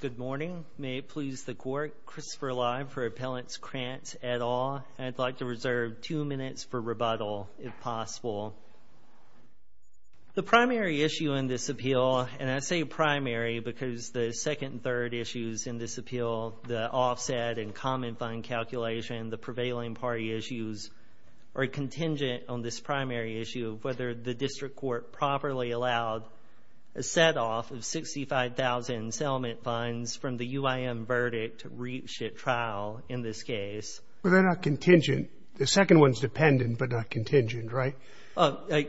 Good morning. May it please the Court, Christopher Lye for Appellants Krantz et al. I'd like to reserve two minutes for rebuttal, if possible. The primary issue in this appeal, and I say primary because the second and third issues in this appeal, the offset and common fund calculation, the prevailing party issues, are contingent on this primary issue of whether the District Court properly allowed a set-off of $65,000 in settlement funds from the UIM verdict to reach a trial in this case. Well, they're not contingent. The second one's dependent but not contingent, right?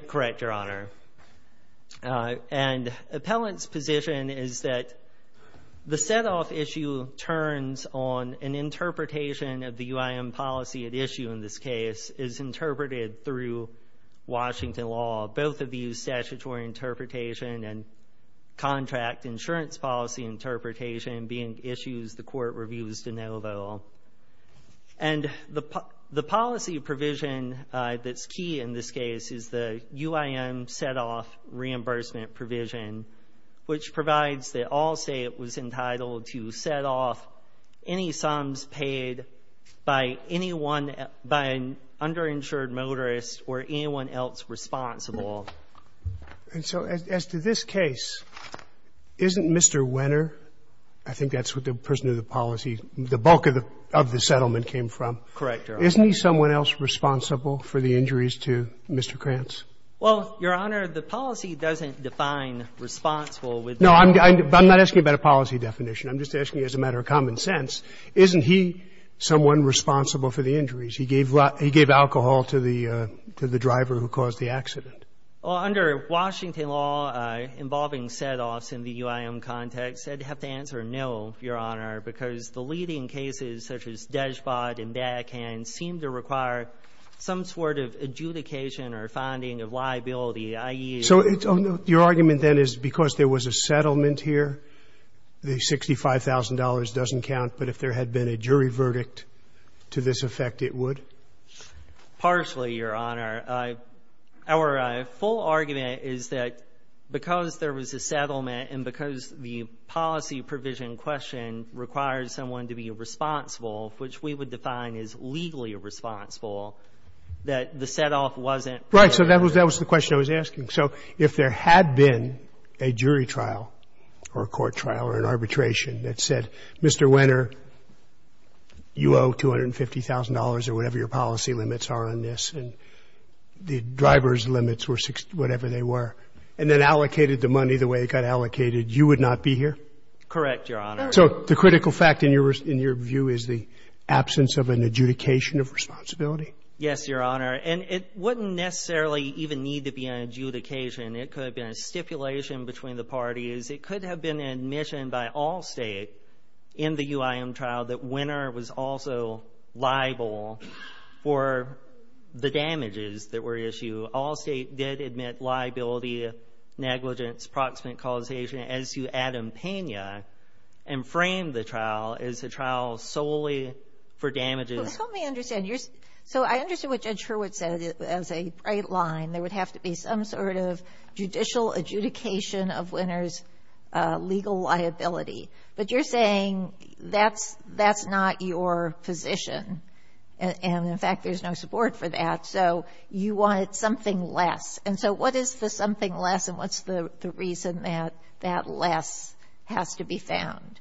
Correct, Your Honor. And Appellant's position is that the set-off issue turns on an interpretation of the UIM policy at issue in this case is interpreted through Washington law. Both of these statutory interpretation and contract insurance policy interpretation being issues the Court reviews de novo. And the policy provision that's key in this case is the UIM set-off reimbursement provision, which provides that Allstate was entitled to set off any sums paid by anyone, by an underinsured motorist or anyone else responsible. And so as to this case, isn't Mr. Wenner, I think that's what the person who the policy, the bulk of the settlement came from. Correct, Your Honor. Isn't he someone else responsible for the injuries to Mr. Krantz? Well, Your Honor, the policy doesn't define responsible with the law. No, I'm not asking about a policy definition. I'm just asking as a matter of common sense, isn't he someone responsible for the injuries? He gave alcohol to the driver who caused the accident. Well, under Washington law, involving set-offs in the UIM context, I'd have to answer no, Your Honor, because the leading cases, such as Deshbott and Beckham, seem to require some sort of adjudication or finding of liability, i.e. So your argument then is because there was a settlement here, the $65,000 doesn't count, but if there had been a jury verdict to this effect, it would? Partially, Your Honor. Our full argument is that because there was a settlement and because the policy provision question requires someone to be responsible, which we would define as legally responsible, that the set-off wasn't paid. Right. So that was the question I was asking. So if there had been a jury trial or a court trial or an arbitration that said, Mr. Wenner, you owe $250,000 or whatever your policy limits are on this, and the driver's limits were whatever they were, and then allocated the money the way it got allocated, you would not be here? Correct, Your Honor. So the critical fact in your view is the absence of an adjudication of responsibility? Yes, Your Honor. And it wouldn't necessarily even need to be an adjudication. It could have been a stipulation between the parties. It could have been an admission by all state in the UIM trial that Wenner was also liable for the damages that were issued. All state did admit liability, negligence, proximate causation as to Adam Pena and framed the trial as a trial solely for damages. Well, help me understand. So I understand what Judge Hurwitz said as a bright line. There would have to be some sort of judicial adjudication of Wenner's legal liability. But you're saying that's not your position, and in fact, there's no support for that. So you wanted something less. And so what is the something less, and what's the reason that that less has to be found?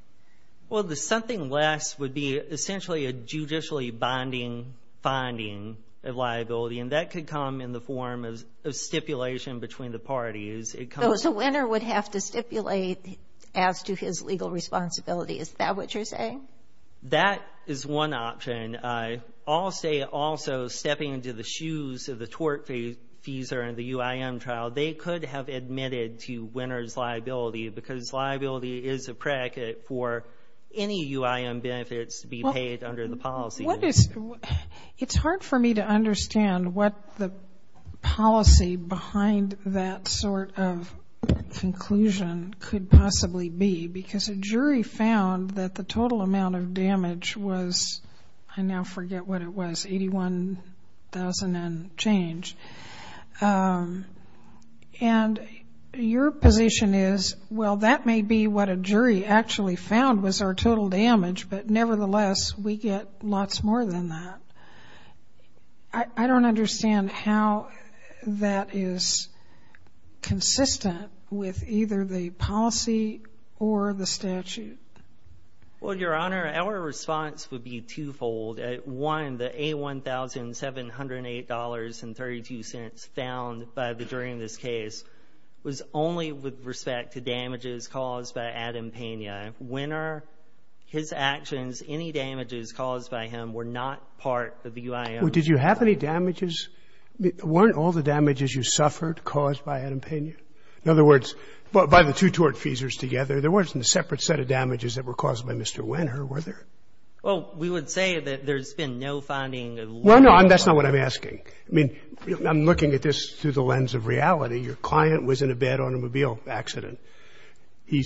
Well, the something less would be essentially a judicially bonding finding of liability, and that could come in the form of stipulation between the parties. So Wenner would have to stipulate as to his legal responsibility. Is that what you're saying? That is one option. I'll say also stepping into the shoes of the tort fees and the UIM trial, they could have admitted to Wenner's liability because liability is a predicate for any UIM benefits to be paid under the policy. It's hard for me to understand what the policy behind that sort of conclusion could possibly be because a jury found that the total amount of damage was, I now forget what it was, $81,000 and change. And your position is, well, that may be what a jury actually found was our total damage, but nevertheless, we get lots more than that. I don't understand how that is consistent with either the policy or the statute. Well, Your Honor, our response would be twofold. One, the $81,708.32 found by the jury in this case was only with respect to damages caused by Adam Pena. Wenner, his actions, any damages caused by him were not part of the UIM trial. Did you have any damages? Weren't all the damages you suffered caused by Adam Pena? In other words, by the two tort fees together, there wasn't a separate set of damages that were caused by Mr. Wenner, were there? Well, we would say that there's been no finding of loan- Well, no, that's not what I'm asking. I mean, I'm looking at this through the lens of reality. Your client was in a bad automobile accident. He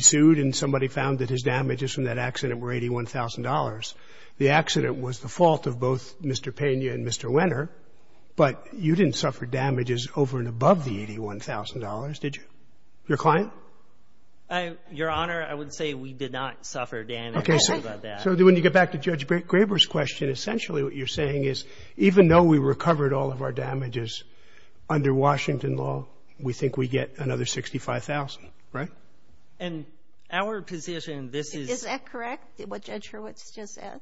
sued, and somebody found that his damages from that accident were $81,000. The accident was the fault of both Mr. Pena and Mr. Wenner, but you didn't suffer damages over and above the $81,000, did you, your client? Okay, so when you get back to Judge Graber's question, essentially what you're saying is even though we recovered all of our damages under Washington law, we think we get another $65,000, right? And our position, this is- Is that correct, what Judge Hurwitz just said?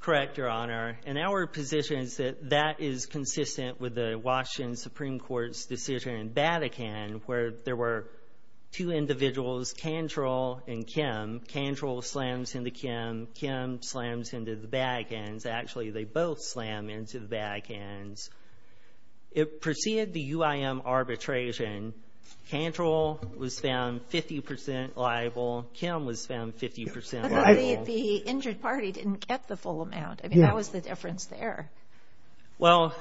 Correct, Your Honor. And our position is that that is consistent with the Washington Supreme Court's decision in Vatican where there were two individuals, Kandrell and Kim. Kim slams into the back ends. Actually, they both slam into the back ends. It preceded the UIM arbitration. Kandrell was found 50% liable. Kim was found 50% liable. The injured party didn't get the full amount. I mean, that was the difference there. Well,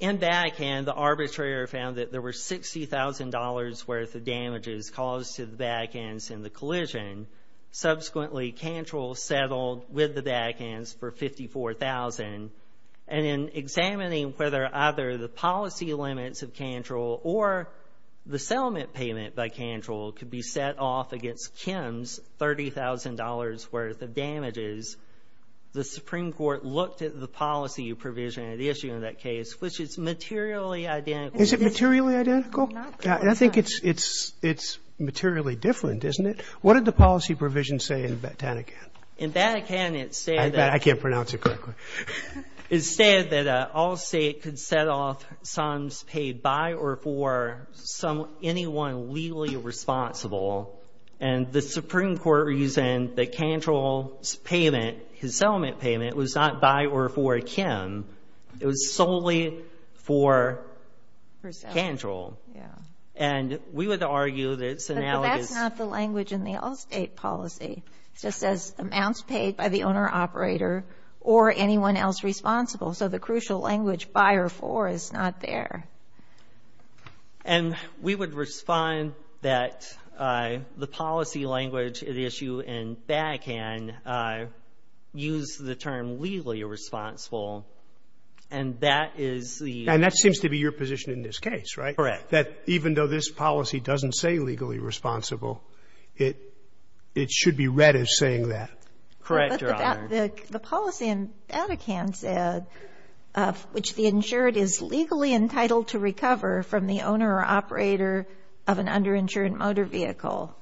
in Vatican, the arbitrator found that there were $60,000 worth of damages caused to the back ends in the collision. Subsequently, Kandrell settled with the back ends for $54,000. And in examining whether either the policy limits of Kandrell or the settlement payment by Kandrell could be set off against Kim's $30,000 worth of damages, the Supreme Court looked at the policy provision at issue in that case, which is materially identical. Is it materially identical? Not quite. I think it's materially different, isn't it? What did the policy provision say in Vatican? In Vatican, it said that... I can't pronounce it correctly. It said that all state could set off sums paid by or for anyone legally responsible. And the Supreme Court reasoned that Kandrell's payment, his settlement payment, was not by or for Kim. It was solely for Kandrell. And we would argue that it's analogous... In the all-state policy, it just says amounts paid by the owner-operator or anyone else responsible. So the crucial language, by or for, is not there. And we would respond that the policy language at issue in Vatican used the term legally responsible, and that is the... And that seems to be your position in this case, right? Correct. That even though this policy doesn't say legally responsible, it should be read as saying that. Correct, Your Honor. The policy in Vatican said, which the insured is legally entitled to recover from the owner-operator of an underinsured motor vehicle,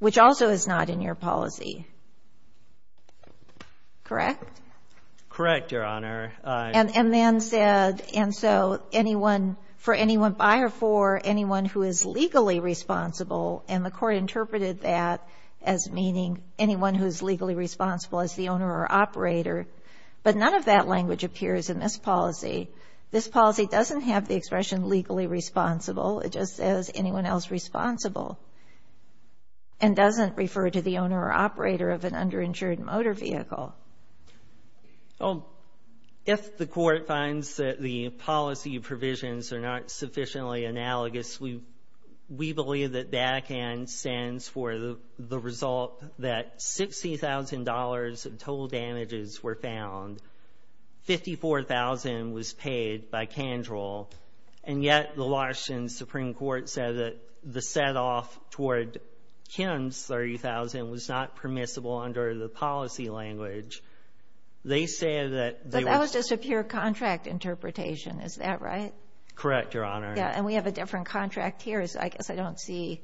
which also is not in your policy, correct? Correct, Your Honor. And then said, and so anyone, for anyone by or for anyone who is legally responsible, and the court interpreted that as meaning anyone who's legally responsible as the owner-operator. But none of that language appears in this policy. This policy doesn't have the expression legally responsible. It just says anyone else responsible and doesn't refer to the owner-operator of an underinsured motor vehicle. Well, if the court finds that the policy provisions are not sufficiently analogous, we believe that Vatican stands for the result that $60,000 in total damages were found, $54,000 was paid by Kandrell, and yet the Washington Supreme Court said that the set off toward Kim's $30,000 was not permissible under the policy language. They said that they were... But that was just a pure contract interpretation. Is that right? Correct, Your Honor. Yeah. And we have a different contract here. So I guess I don't see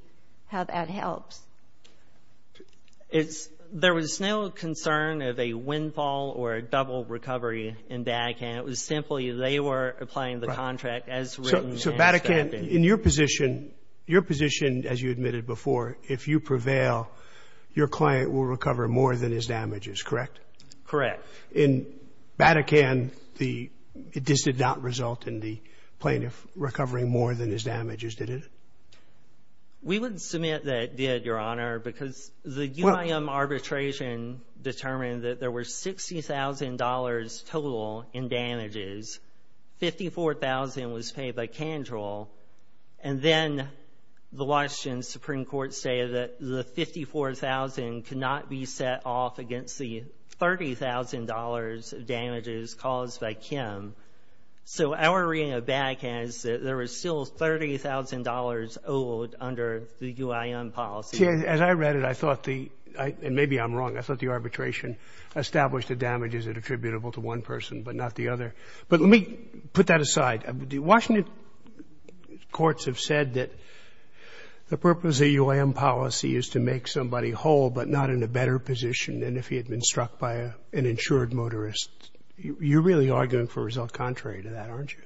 how that helps. There was no concern of a windfall or a double recovery in Vatican. It was simply they were applying the contract as written and accepted. So Vatican, in your position, your position, as you admitted before, if you prevail, your client will recover more than his damages, correct? Correct. In Vatican, it just did not result in the plaintiff recovering more than his damages, did it? We wouldn't submit that it did, Your Honor, because the UIM arbitration determined that there were $60,000 total in damages, $54,000 was paid by Kandrell, and then the Washington Supreme Court stated that the $54,000 could not be set off against the $30,000 of damages caused by Kim. So our reading of Vatican is that there was still $30,000 owed under the UIM policy. See, as I read it, I thought the... And maybe I'm wrong. I thought the arbitration established the damages that are attributable to one person but not the other. But let me put that aside. The Washington courts have said that the purpose of the UIM policy is to make somebody whole but not in a better position than if he had been struck by an insured motorist. You're really arguing for a result contrary to that, aren't you?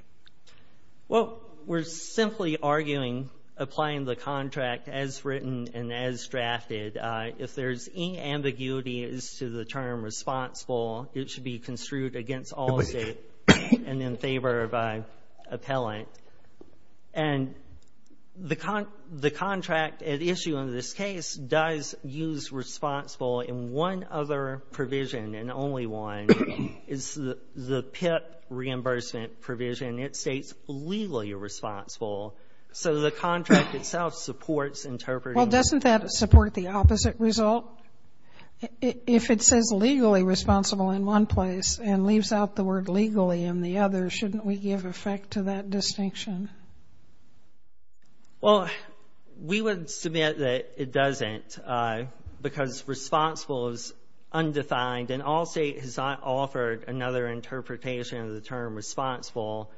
Well, we're simply arguing, applying the contract as written and as drafted. If there's any ambiguity as to the term responsible, it should be construed against all states and in favor by appellant. And the contract at issue in this case does use responsible in one other provision, and only one, is the PIP reimbursement provision. It states legally responsible. So the contract itself supports interpreting... Well, doesn't that support the opposite result? If it says legally responsible in one place and leaves out the word legally in the other, shouldn't we give effect to that distinction? Well, we would submit that it doesn't because responsible is undefined, and all states have offered another interpretation of the term responsible.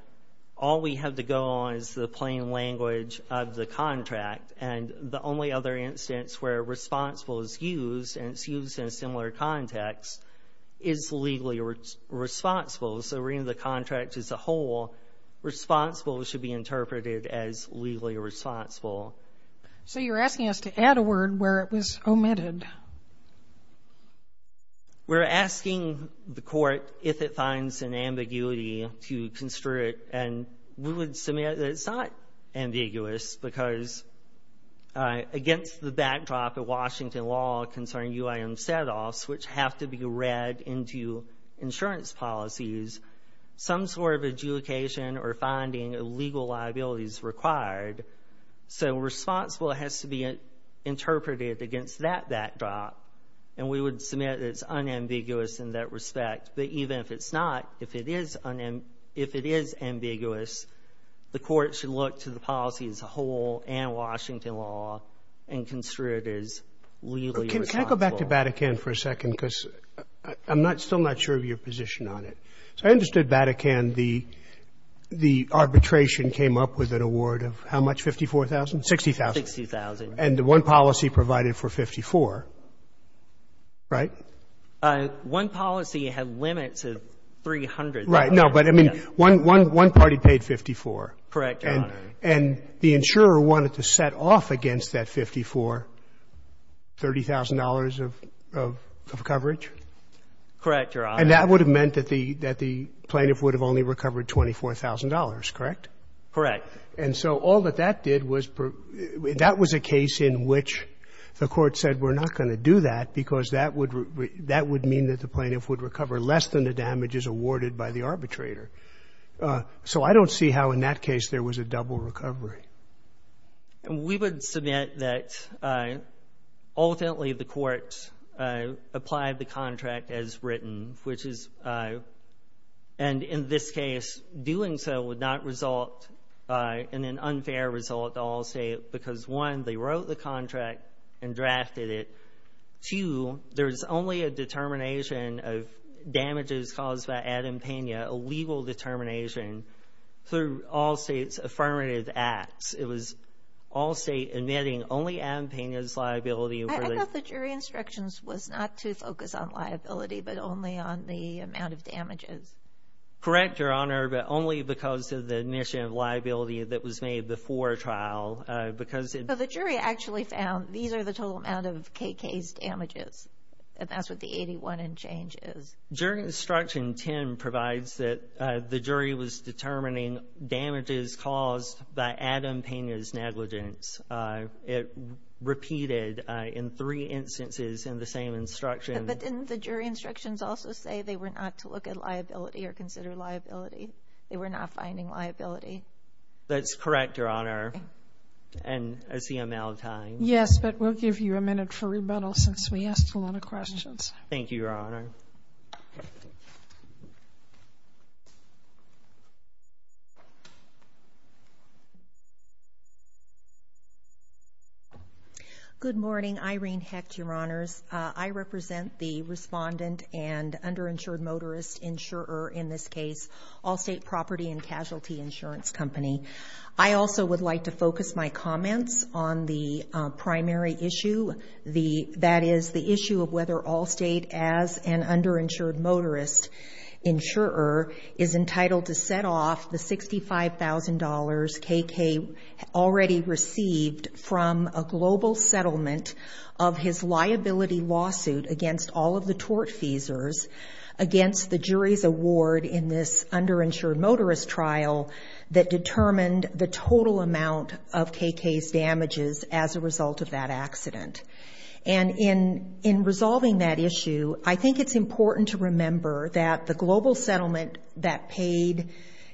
All we have to go on is the plain language of the contract. And the only other instance where responsible is used, and it's used in a similar context, is legally responsible. So reading the contract as a whole, responsible should be interpreted as legally responsible. So you're asking us to add a word where it was omitted. We're asking the court if it finds an ambiguity to construe it, and we would submit that it's not ambiguous because against the backdrop of Washington law concerning UIM set-offs, which have to be read into insurance policies, some sort of adjudication or finding of legal liability is required. So responsible has to be interpreted against that backdrop. And we would submit that it's unambiguous in that respect. But even if it's not, if it is ambiguous, the court should look to the policy as a whole and Washington law and construe it as legally responsible. But can I go back to Batacan for a second, because I'm still not sure of your position on it. So I understood Batacan, the arbitration came up with an award of how much, $54,000? $60,000. $60,000. And the one policy provided for $54,000, right? One policy had limits of $300,000. Right. No, but I mean, one party paid $54,000. Correct, Your Honor. And the insurer wanted to set off against that $54,000 $30,000 of coverage? Correct, Your Honor. And that would have meant that the plaintiff would have only recovered $24,000, correct? Correct. And so all that that did was per — that was a case in which the Court said we're not going to do that because that would — that would mean that the plaintiff would recover less than the damages awarded by the arbitrator. So I don't see how in that case there was a double recovery. We would submit that ultimately the Court applied the contract as written, which is — and in this case, doing so would not result in an unfair result, I'll say, because, one, they wrote the contract and drafted it. Two, there's only a determination of damages caused by Adam Pena, a legal determination, through all states' affirmative acts. It was all state admitting only Adam Pena's liability for the — I thought the jury instructions was not to focus on liability, but only on the amount of damages. Correct, Your Honor, but only because of the admission of liability that was made before a trial, because it — So the jury actually found these are the total amount of KK's damages, and that's what the 81 and change is. Jury instruction 10 provides that the jury was determining damages caused by Adam Pena's negligence. It repeated in three instances in the same instruction. But didn't the jury instructions also say they were not to look at liability or consider liability? They were not finding liability. That's correct, Your Honor, and as the amount of time — Yes, but we'll give you a minute for rebuttal since we asked a lot of Thank you, Your Honor. Good morning. Irene Hecht, Your Honors. I represent the respondent and underinsured motorist insurer in this insurance company. I also would like to focus my comments on the primary issue, that is, the issue of whether Allstate, as an underinsured motorist insurer, is entitled to set off the $65,000 KK already received from a global settlement of his liability lawsuit against all of the tortfeasors against the jury's award in this underinsured motorist trial that determined the total amount of KK's damages as a result of that accident. And in resolving that issue, I think it's important to remember that the global settlement that paid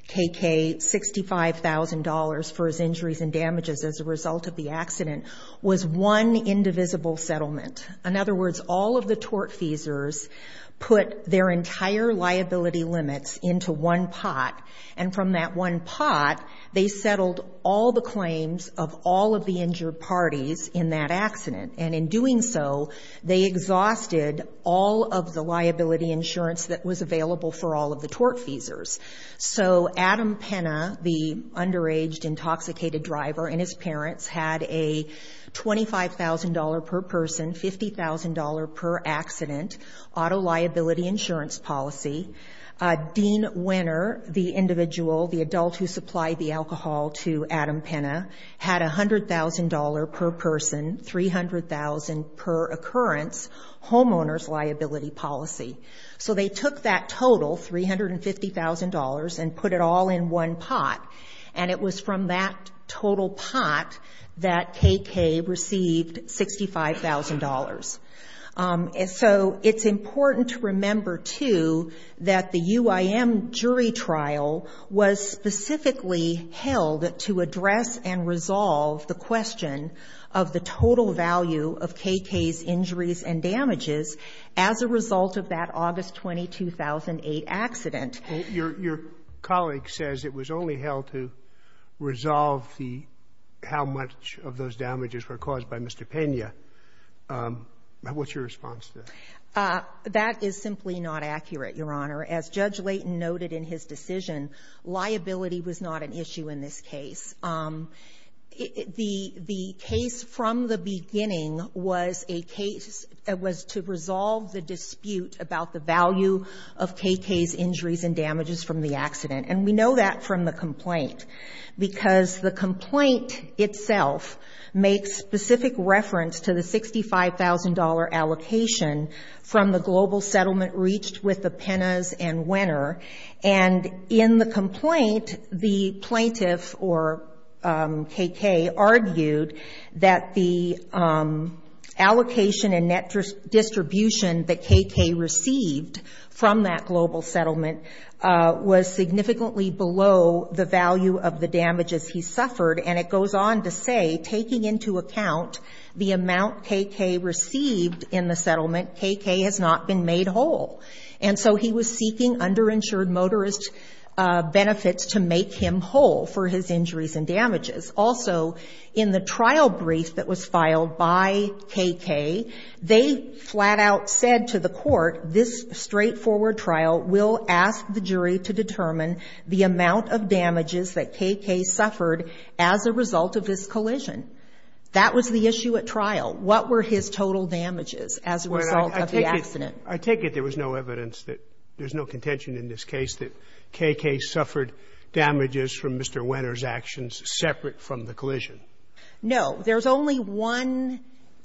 KK $65,000 for his injuries and damages as a result of the accident was one indivisible settlement. In other words, all of the tortfeasors put their entire liability limits into one pot, and from that one pot, they settled all the claims of all of the injured parties in that accident. And in doing so, they exhausted all of the liability insurance that was available for all of the tortfeasors. So Adam Penna, the underaged, intoxicated driver, and his parents had a $25,000 per person, $50,000 per accident auto liability insurance policy. Dean Winner, the individual, the adult who supplied the alcohol to Adam Penna, had a $100,000 per person, $300,000 per occurrence, homeowner's liability policy. So they took that total, $350,000, and put it all in one pot. And it was from that total pot that KK received $65,000. So it's important to remember, too, that the UIM jury trial was specifically held to address and resolve the question of the total value of KK's injuries and damages as a result of that August 20, 2008 accident. Your colleague says it was only held to resolve how much of those damages were KK's injuries and damages from the accident, and what's your response to that? That is simply not accurate, Your Honor. As Judge Layton noted in his decision, liability was not an issue in this case. The case from the beginning was a case that was to resolve the dispute about the value of KK's injuries and damages from the accident. And we know that from the complaint, because the complaint itself makes specific reference to the $65,000 allocation from the global settlement reached with the Penas and Wenner. And in the complaint, the plaintiff, or KK, argued that the allocation and net distribution that KK received from that global settlement was significantly below the value of the damages he suffered. And it goes on to say, taking into account the amount KK received in the settlement, KK has not been made whole. And so he was seeking underinsured motorist benefits to make him whole for his injuries and damages. Also, in the trial brief that was filed by KK, they flat out said to the court, this straightforward trial will ask the jury to determine the amount of damages that KK suffered as a result of this collision. That was the issue at trial. What were his total damages as a result of the accident? Roberts. I take it there was no evidence that there's no contention in this case that KK suffered damages from Mr. Wenner's actions separate from the collision. No. There's only one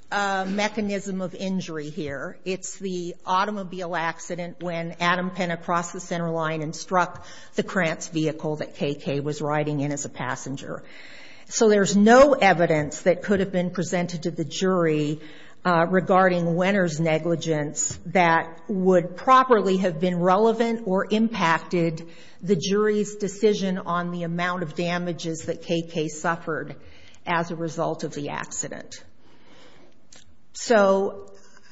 mechanism of injury here. It's the automobile accident when Adam Penna crossed the center line and struck the Krantz vehicle that KK was riding in as a passenger. So there's no evidence that could have been presented to the jury regarding Wenner's negligence that would properly have been relevant or impacted the jury's decision on the amount of damages that KK suffered as a result of the accident. So,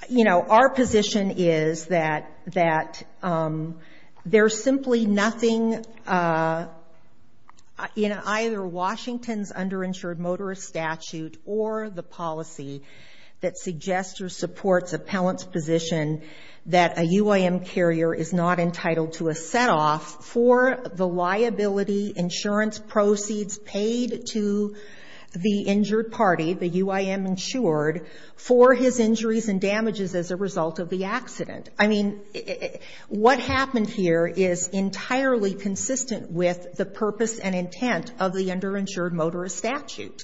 you know, our position is that there's simply nothing in either Washington's underinsured motorist statute or the policy that suggests or supports appellant's position that a UIM carrier is not entitled to a set-off for the liability insurance proceeds paid to the injured party, the UIM insured, for his injuries and damages as a result of the accident. I mean, what happened here is entirely consistent with the purpose and intent of the underinsured motorist statute.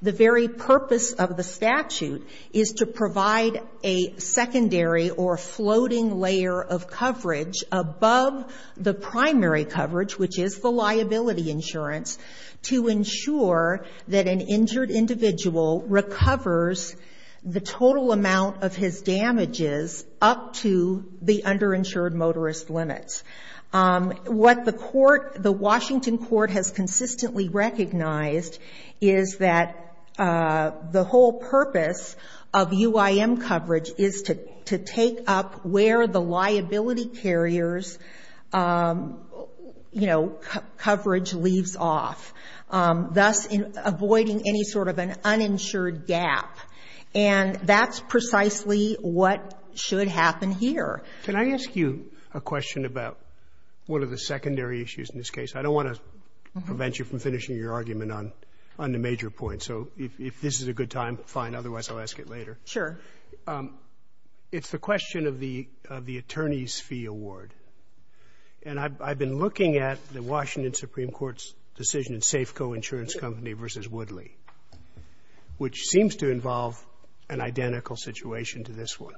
The very purpose of the statute is to provide a secondary or floating layer of coverage above the primary coverage, which is the liability insurance, to ensure that an injured individual recovers the total amount of his damages up to the underinsured motorist limits. What the court, the Washington court has consistently recognized is that the whole purpose of UIM coverage is to take up where the liability carrier's, you know, coverage leaves off, thus avoiding any sort of an uninsured gap. And that's precisely what should happen here. Can I ask you a question about one of the secondary issues in this case? I don't want to prevent you from finishing your argument on the major points. So if this is a good time, fine. Otherwise, I'll ask it later. Sotomayor, it's the question of the attorney's fee award. And I've been looking at the Washington Supreme Court's decision in Safeco Insurance Company v. Woodley, which seems to involve an identical situation to this one.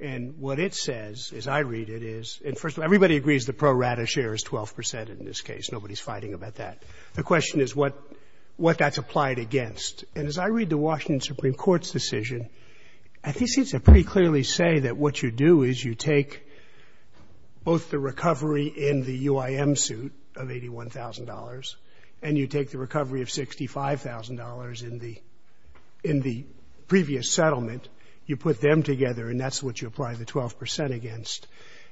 And what it says, as I read it, is, and first of all, everybody agrees the pro rata share is 12 percent in this case. Nobody's fighting about that. The question is what that's applied against. And as I read the Washington Supreme Court's decision, I think it seems to pretty clearly say that what you do is you take both the recovery in the UIM suit of $81,000 and you take the recovery of $65,000 in the previous settlement, you put them together, and that's what you apply the 12 percent against.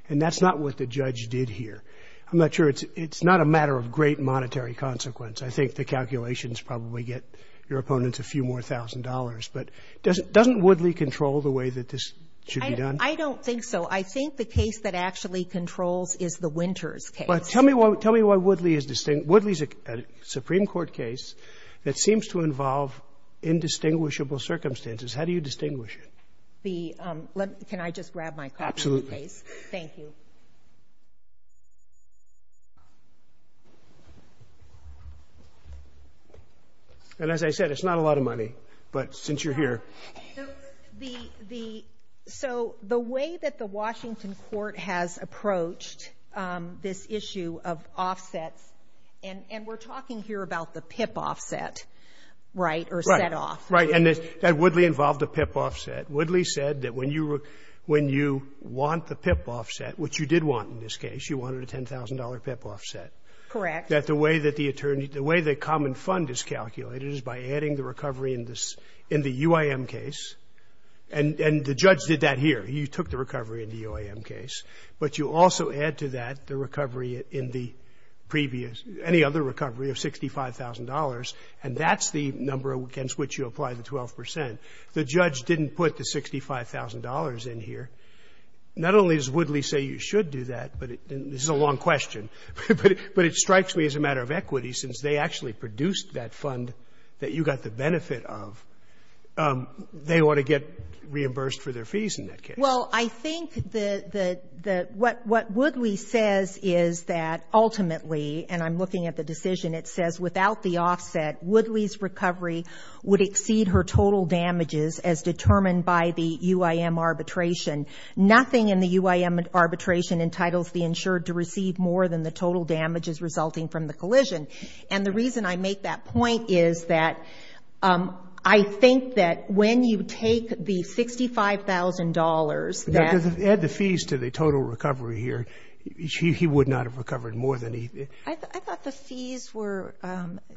And that's not what the judge did here. I'm not sure it's not a matter of great monetary consequence. I think the calculations probably get your opponents a few more thousand dollars. But doesn't Woodley control the way that this should be done? I don't think so. I think the case that actually controls is the Winters case. But tell me why Woodley is distinct. Woodley is a Supreme Court case that seems to involve indistinguishable circumstances. How do you distinguish it? The — can I just grab my copy of the case? Absolutely. Thank you. And as I said, it's not a lot of money, but since you're here. The — so the way that the Washington court has approached this issue of offsets — and we're talking here about the PIP offset, right, or set-off. Right. And that Woodley involved a PIP offset. Woodley said that when you want the PIP offset, which you did want in this case, you wanted a $10,000 PIP offset. Correct. That the way that the attorney — the way the common fund is calculated is by adding the recovery in this — in the UIM case, and the judge did that here. He took the recovery in the UIM case. But you also add to that the recovery in the previous — any other recovery of $65,000, and that's the number against which you apply the 12 percent. The judge didn't put the $65,000 in here. Not only does Woodley say you should do that, but — and this is a long question — but it strikes me as a matter of equity, since they actually produced that fund that you got the benefit of, they ought to get reimbursed for their fees in that case. Well, I think the — what Woodley says is that, ultimately, and I'm looking at the decision, it says without the offset, Woodley's recovery would exceed her total damages as determined by the UIM arbitration. Nothing in the UIM arbitration entitles the insured to receive more than the total damages resulting from the collision. And the reason I make that point is that I think that when you take the $65,000 that — Now, add the fees to the total recovery here. He would not have recovered more than he — I thought the fees were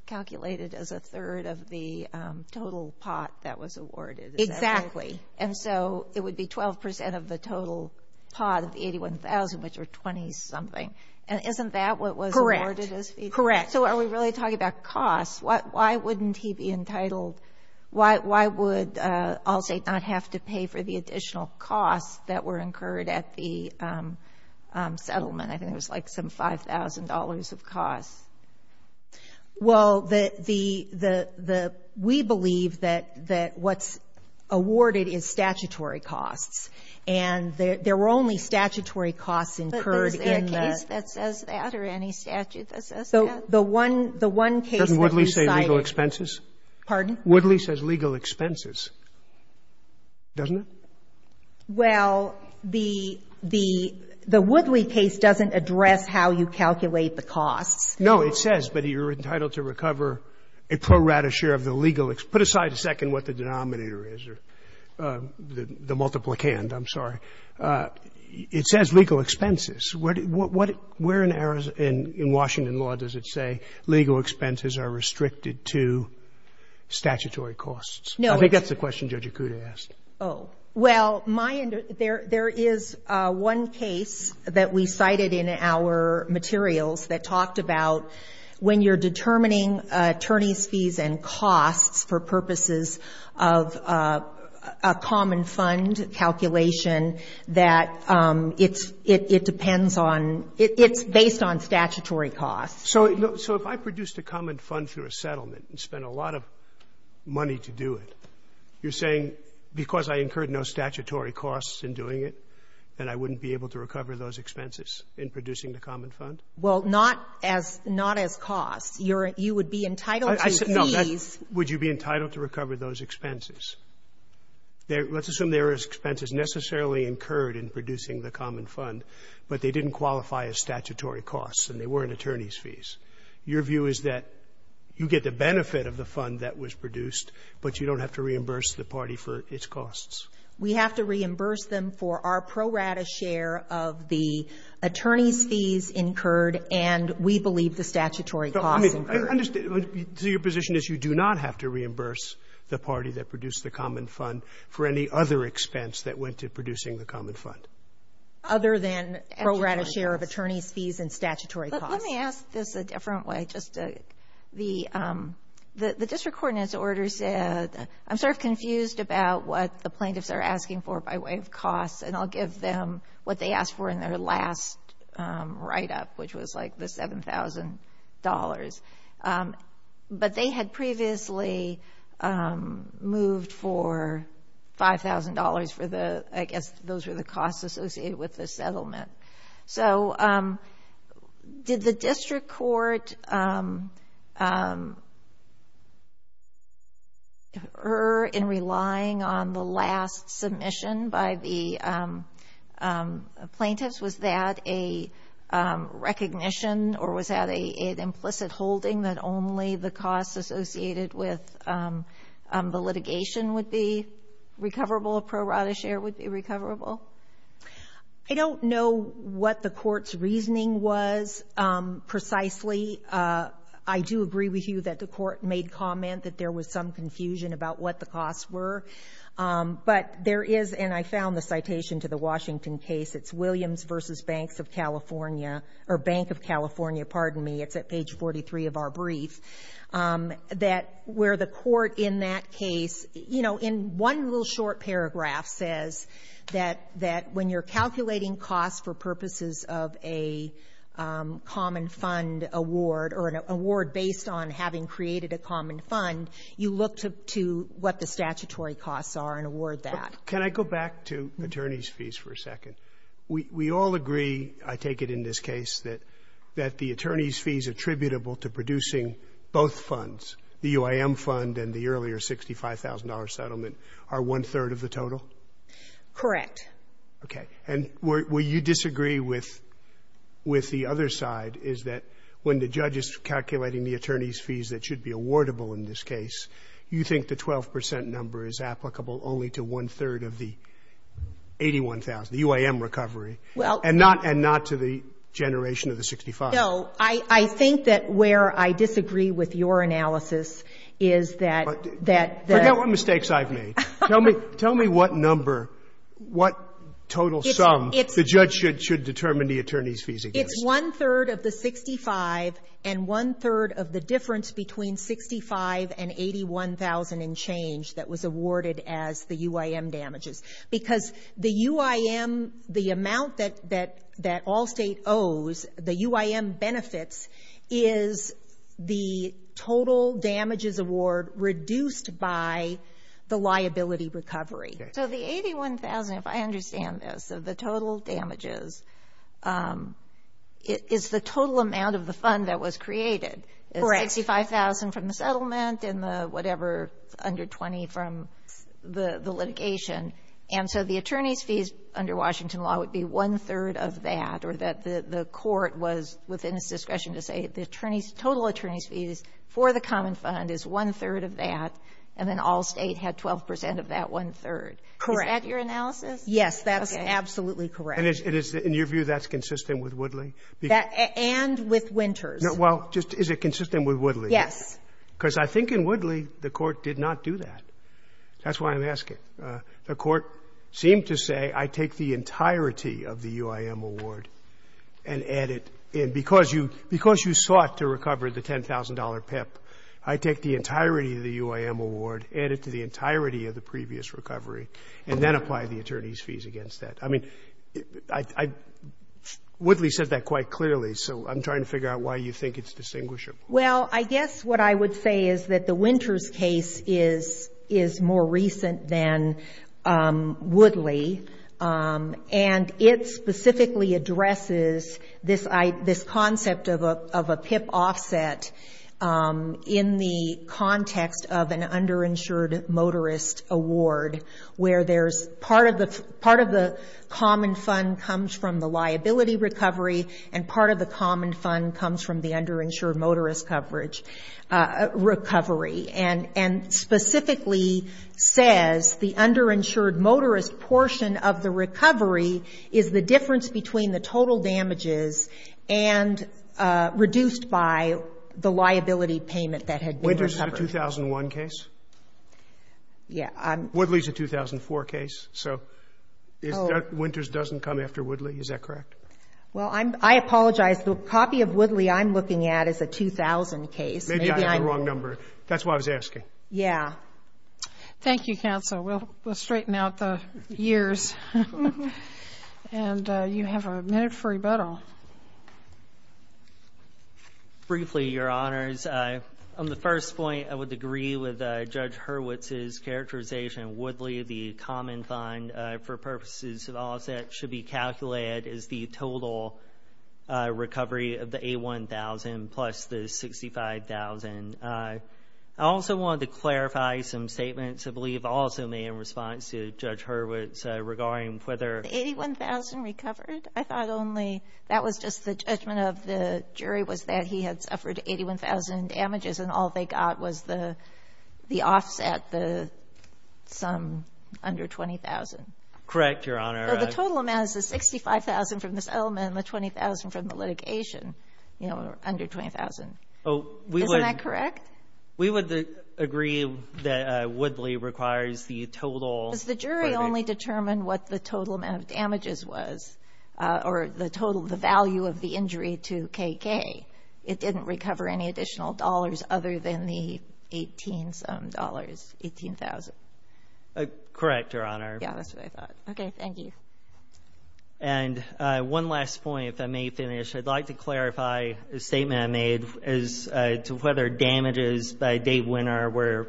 calculated as a third of the total pot that was awarded. Exactly. And so it would be 12 percent of the total pot of the $81,000, which were 20-something. And isn't that what was awarded as fees? Correct. Correct. So are we really talking about costs? Why wouldn't he be entitled — why would Allstate not have to pay for the additional costs that were incurred at the settlement? I think it was like some $5,000 of costs. Well, the — we believe that what's awarded is statutory costs. And there were only statutory costs incurred in the — But is there a case that says that or any statute that says that? So the one case that we cited — Doesn't Woodley say legal expenses? Pardon? Woodley says legal expenses, doesn't it? Well, the — the Woodley case doesn't address how you calculate the costs. No, it says, but you're entitled to recover a pro rata share of the legal — put aside a second what the denominator is, or the multiplicand, I'm sorry. It says legal expenses. Where in Washington law does it say legal expenses are restricted to statutory costs? No. I think that's the question Judge Acuda asked. Oh. Well, my — there is one case that we cited in our materials that talked about when you're determining attorneys' fees and costs for purposes of a common fund calculation that it's — it depends on — it's based on statutory costs. So if I produced a common fund for a settlement and spent a lot of money to do it, you're saying because I incurred no statutory costs in doing it that I wouldn't be able to recover those expenses in producing the common fund? Well, not as — not as costs. You're — you would be entitled to fees. Would you be entitled to recover those expenses? Let's assume there is expenses necessarily incurred in producing the common fund, but they didn't qualify as statutory costs and they weren't attorneys' fees. Your view is that you get the benefit of the fund that was produced, but you don't have to reimburse the party for its costs? We have to reimburse them for our pro rata share of the attorneys' fees incurred, and we believe the statutory costs incurred. I mean, I understand. So your position is you do not have to reimburse the party that produced the common fund for any other expense that went to producing the common fund? Other than pro rata share of attorneys' fees and statutory costs. But let me ask this a different way. The district court in its order said — I'm sort of confused about what the plaintiffs are asking for by way of costs, and I'll give them what they asked for in their last write-up, which was like the $7,000. But they had previously moved for $5,000 for the — I guess those were the costs associated with the settlement. So did the district court err in relying on the last submission by the plaintiffs? Was that a recognition or was that an implicit holding that only the costs associated with the litigation would be recoverable, pro rata share would be recoverable? I don't know what the court's reasoning was precisely. I do agree with you that the court made comment that there was some confusion about what the costs were. But there is — and I found the citation to the Washington case. It's Williams v. Banks of California — or Bank of California, pardon me. It's at page 43 of our brief — that where the court in that case — you know, in one little short paragraph says that when you're calculating costs for purposes of a common fund award or an award based on having created a common fund, you look to what the statutory costs are and award that. Can I go back to attorneys' fees for a second? We all agree, I take it in this case, that the attorneys' fees attributable to producing both funds, the UIM fund and the earlier $65,000 settlement, are one-third of the total? Correct. Okay. And will you disagree with the other side, is that when the judge is calculating the attorneys' fees that should be awardable in this case, you think the 12 percent number is applicable only to one-third of the $81,000, the UIM recovery, and not to the generation of the $65,000? No. I think that where I disagree with your analysis is that — Forget what mistakes I've made. Tell me what number, what total sum the judge should determine the attorneys' fees against. It's one-third of the $65,000 and one-third of the difference between $65,000 and $81,000 in change that was awarded as the UIM damages. Because the UIM, the amount that all state owes, the UIM benefits, is the total damages award reduced by the liability recovery. So the $81,000, if I understand this, of the total damages, is the total amount of the fund that was created. Correct. $65,000 from the settlement and the whatever under $20,000 from the litigation. And so the attorneys' fees under Washington law would be one-third of that, or that the court was within its discretion to say the attorneys' — total attorneys' fees for the common fund is one-third of that, and then all state had 12 percent of that one-third. Correct. Is that your analysis? Yes, that's absolutely correct. And it is — in your view, that's consistent with Woodley? And with Winters. Well, just is it consistent with Woodley? Yes. Because I think in Woodley the court did not do that. That's why I'm asking. The court seemed to say, I take the entirety of the UIM award and add it in. Because you sought to recover the $10,000 PIP, I take the entirety of the UIM award, add it to the entirety of the previous recovery, and then apply the attorneys' fees against that. I mean, I — Woodley said that quite clearly, so I'm trying to figure out why you think it's distinguishable. Well, I guess what I would say is that the Winters case is more recent than Woodley, and it specifically addresses this concept of a PIP offset in the context of an underinsured motorist award, where there's part of the common fund comes from the underinsured motorist coverage recovery. And specifically says the underinsured motorist portion of the recovery is the difference between the total damages and reduced by the liability payment that had been recovered. Winters is a 2001 case? Yeah. Woodley is a 2004 case. So Winters doesn't come after Woodley? Is that correct? Well, I apologize. The copy of Woodley I'm looking at is a 2000 case. Maybe I have the wrong number. That's why I was asking. Yeah. Thank you, counsel. We'll straighten out the years. And you have a minute for rebuttal. Briefly, Your Honors, on the first point, I would agree with Judge Hurwitz's characterization of Woodley, the common fund for purposes of offset should be calculated as the total recovery of the A1000 plus the 65,000. I also wanted to clarify some statements I believe also made in response to Judge Hurwitz regarding whether the 81,000 recovered. I thought only that was just the judgment of the jury was that he had suffered 81,000 damages and all they got was the offset, the sum under 20,000. Correct, Your Honor. So the total amount is the 65,000 from the settlement and the 20,000 from the litigation, you know, under 20,000. Isn't that correct? We would agree that Woodley requires the total. Does the jury only determine what the total amount of damages was or the total, the value of the injury to KK? It didn't recover any additional dollars other than the 18-some dollars, 18,000. Correct, Your Honor. Yeah, that's what I thought. Okay. Thank you. And one last point, if I may finish. I'd like to clarify a statement I made as to whether damages by Dave Winner were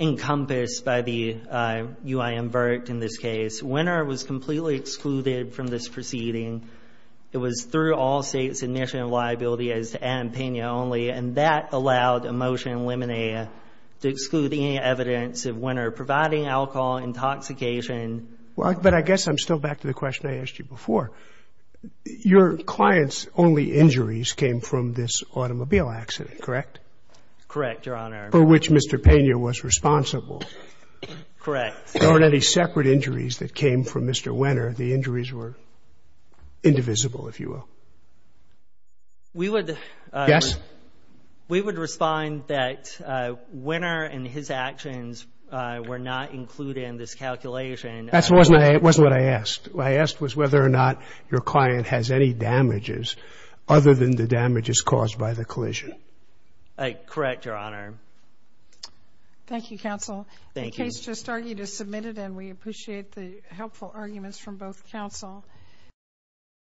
encompassed by the UIM vert in this case. Winner was completely excluded from this proceeding. It was through all states' initial liability as to Adam Pena only, and that allowed a motion in limine to exclude any evidence of Winner providing alcohol, intoxication. But I guess I'm still back to the question I asked you before. Your client's only injuries came from this automobile accident, correct? Correct, Your Honor. For which Mr. Pena was responsible. Correct. There weren't any separate injuries that came from Mr. Winner. The injuries were indivisible, if you will. We would respond that Winner and his actions were not included in this calculation. That wasn't what I asked. What I asked was whether or not your client has any damages other than the damages caused by the collision. Correct, Your Honor. Thank you, counsel. Thank you. The case just argued is submitted, and we appreciate the helpful arguments from both counsel.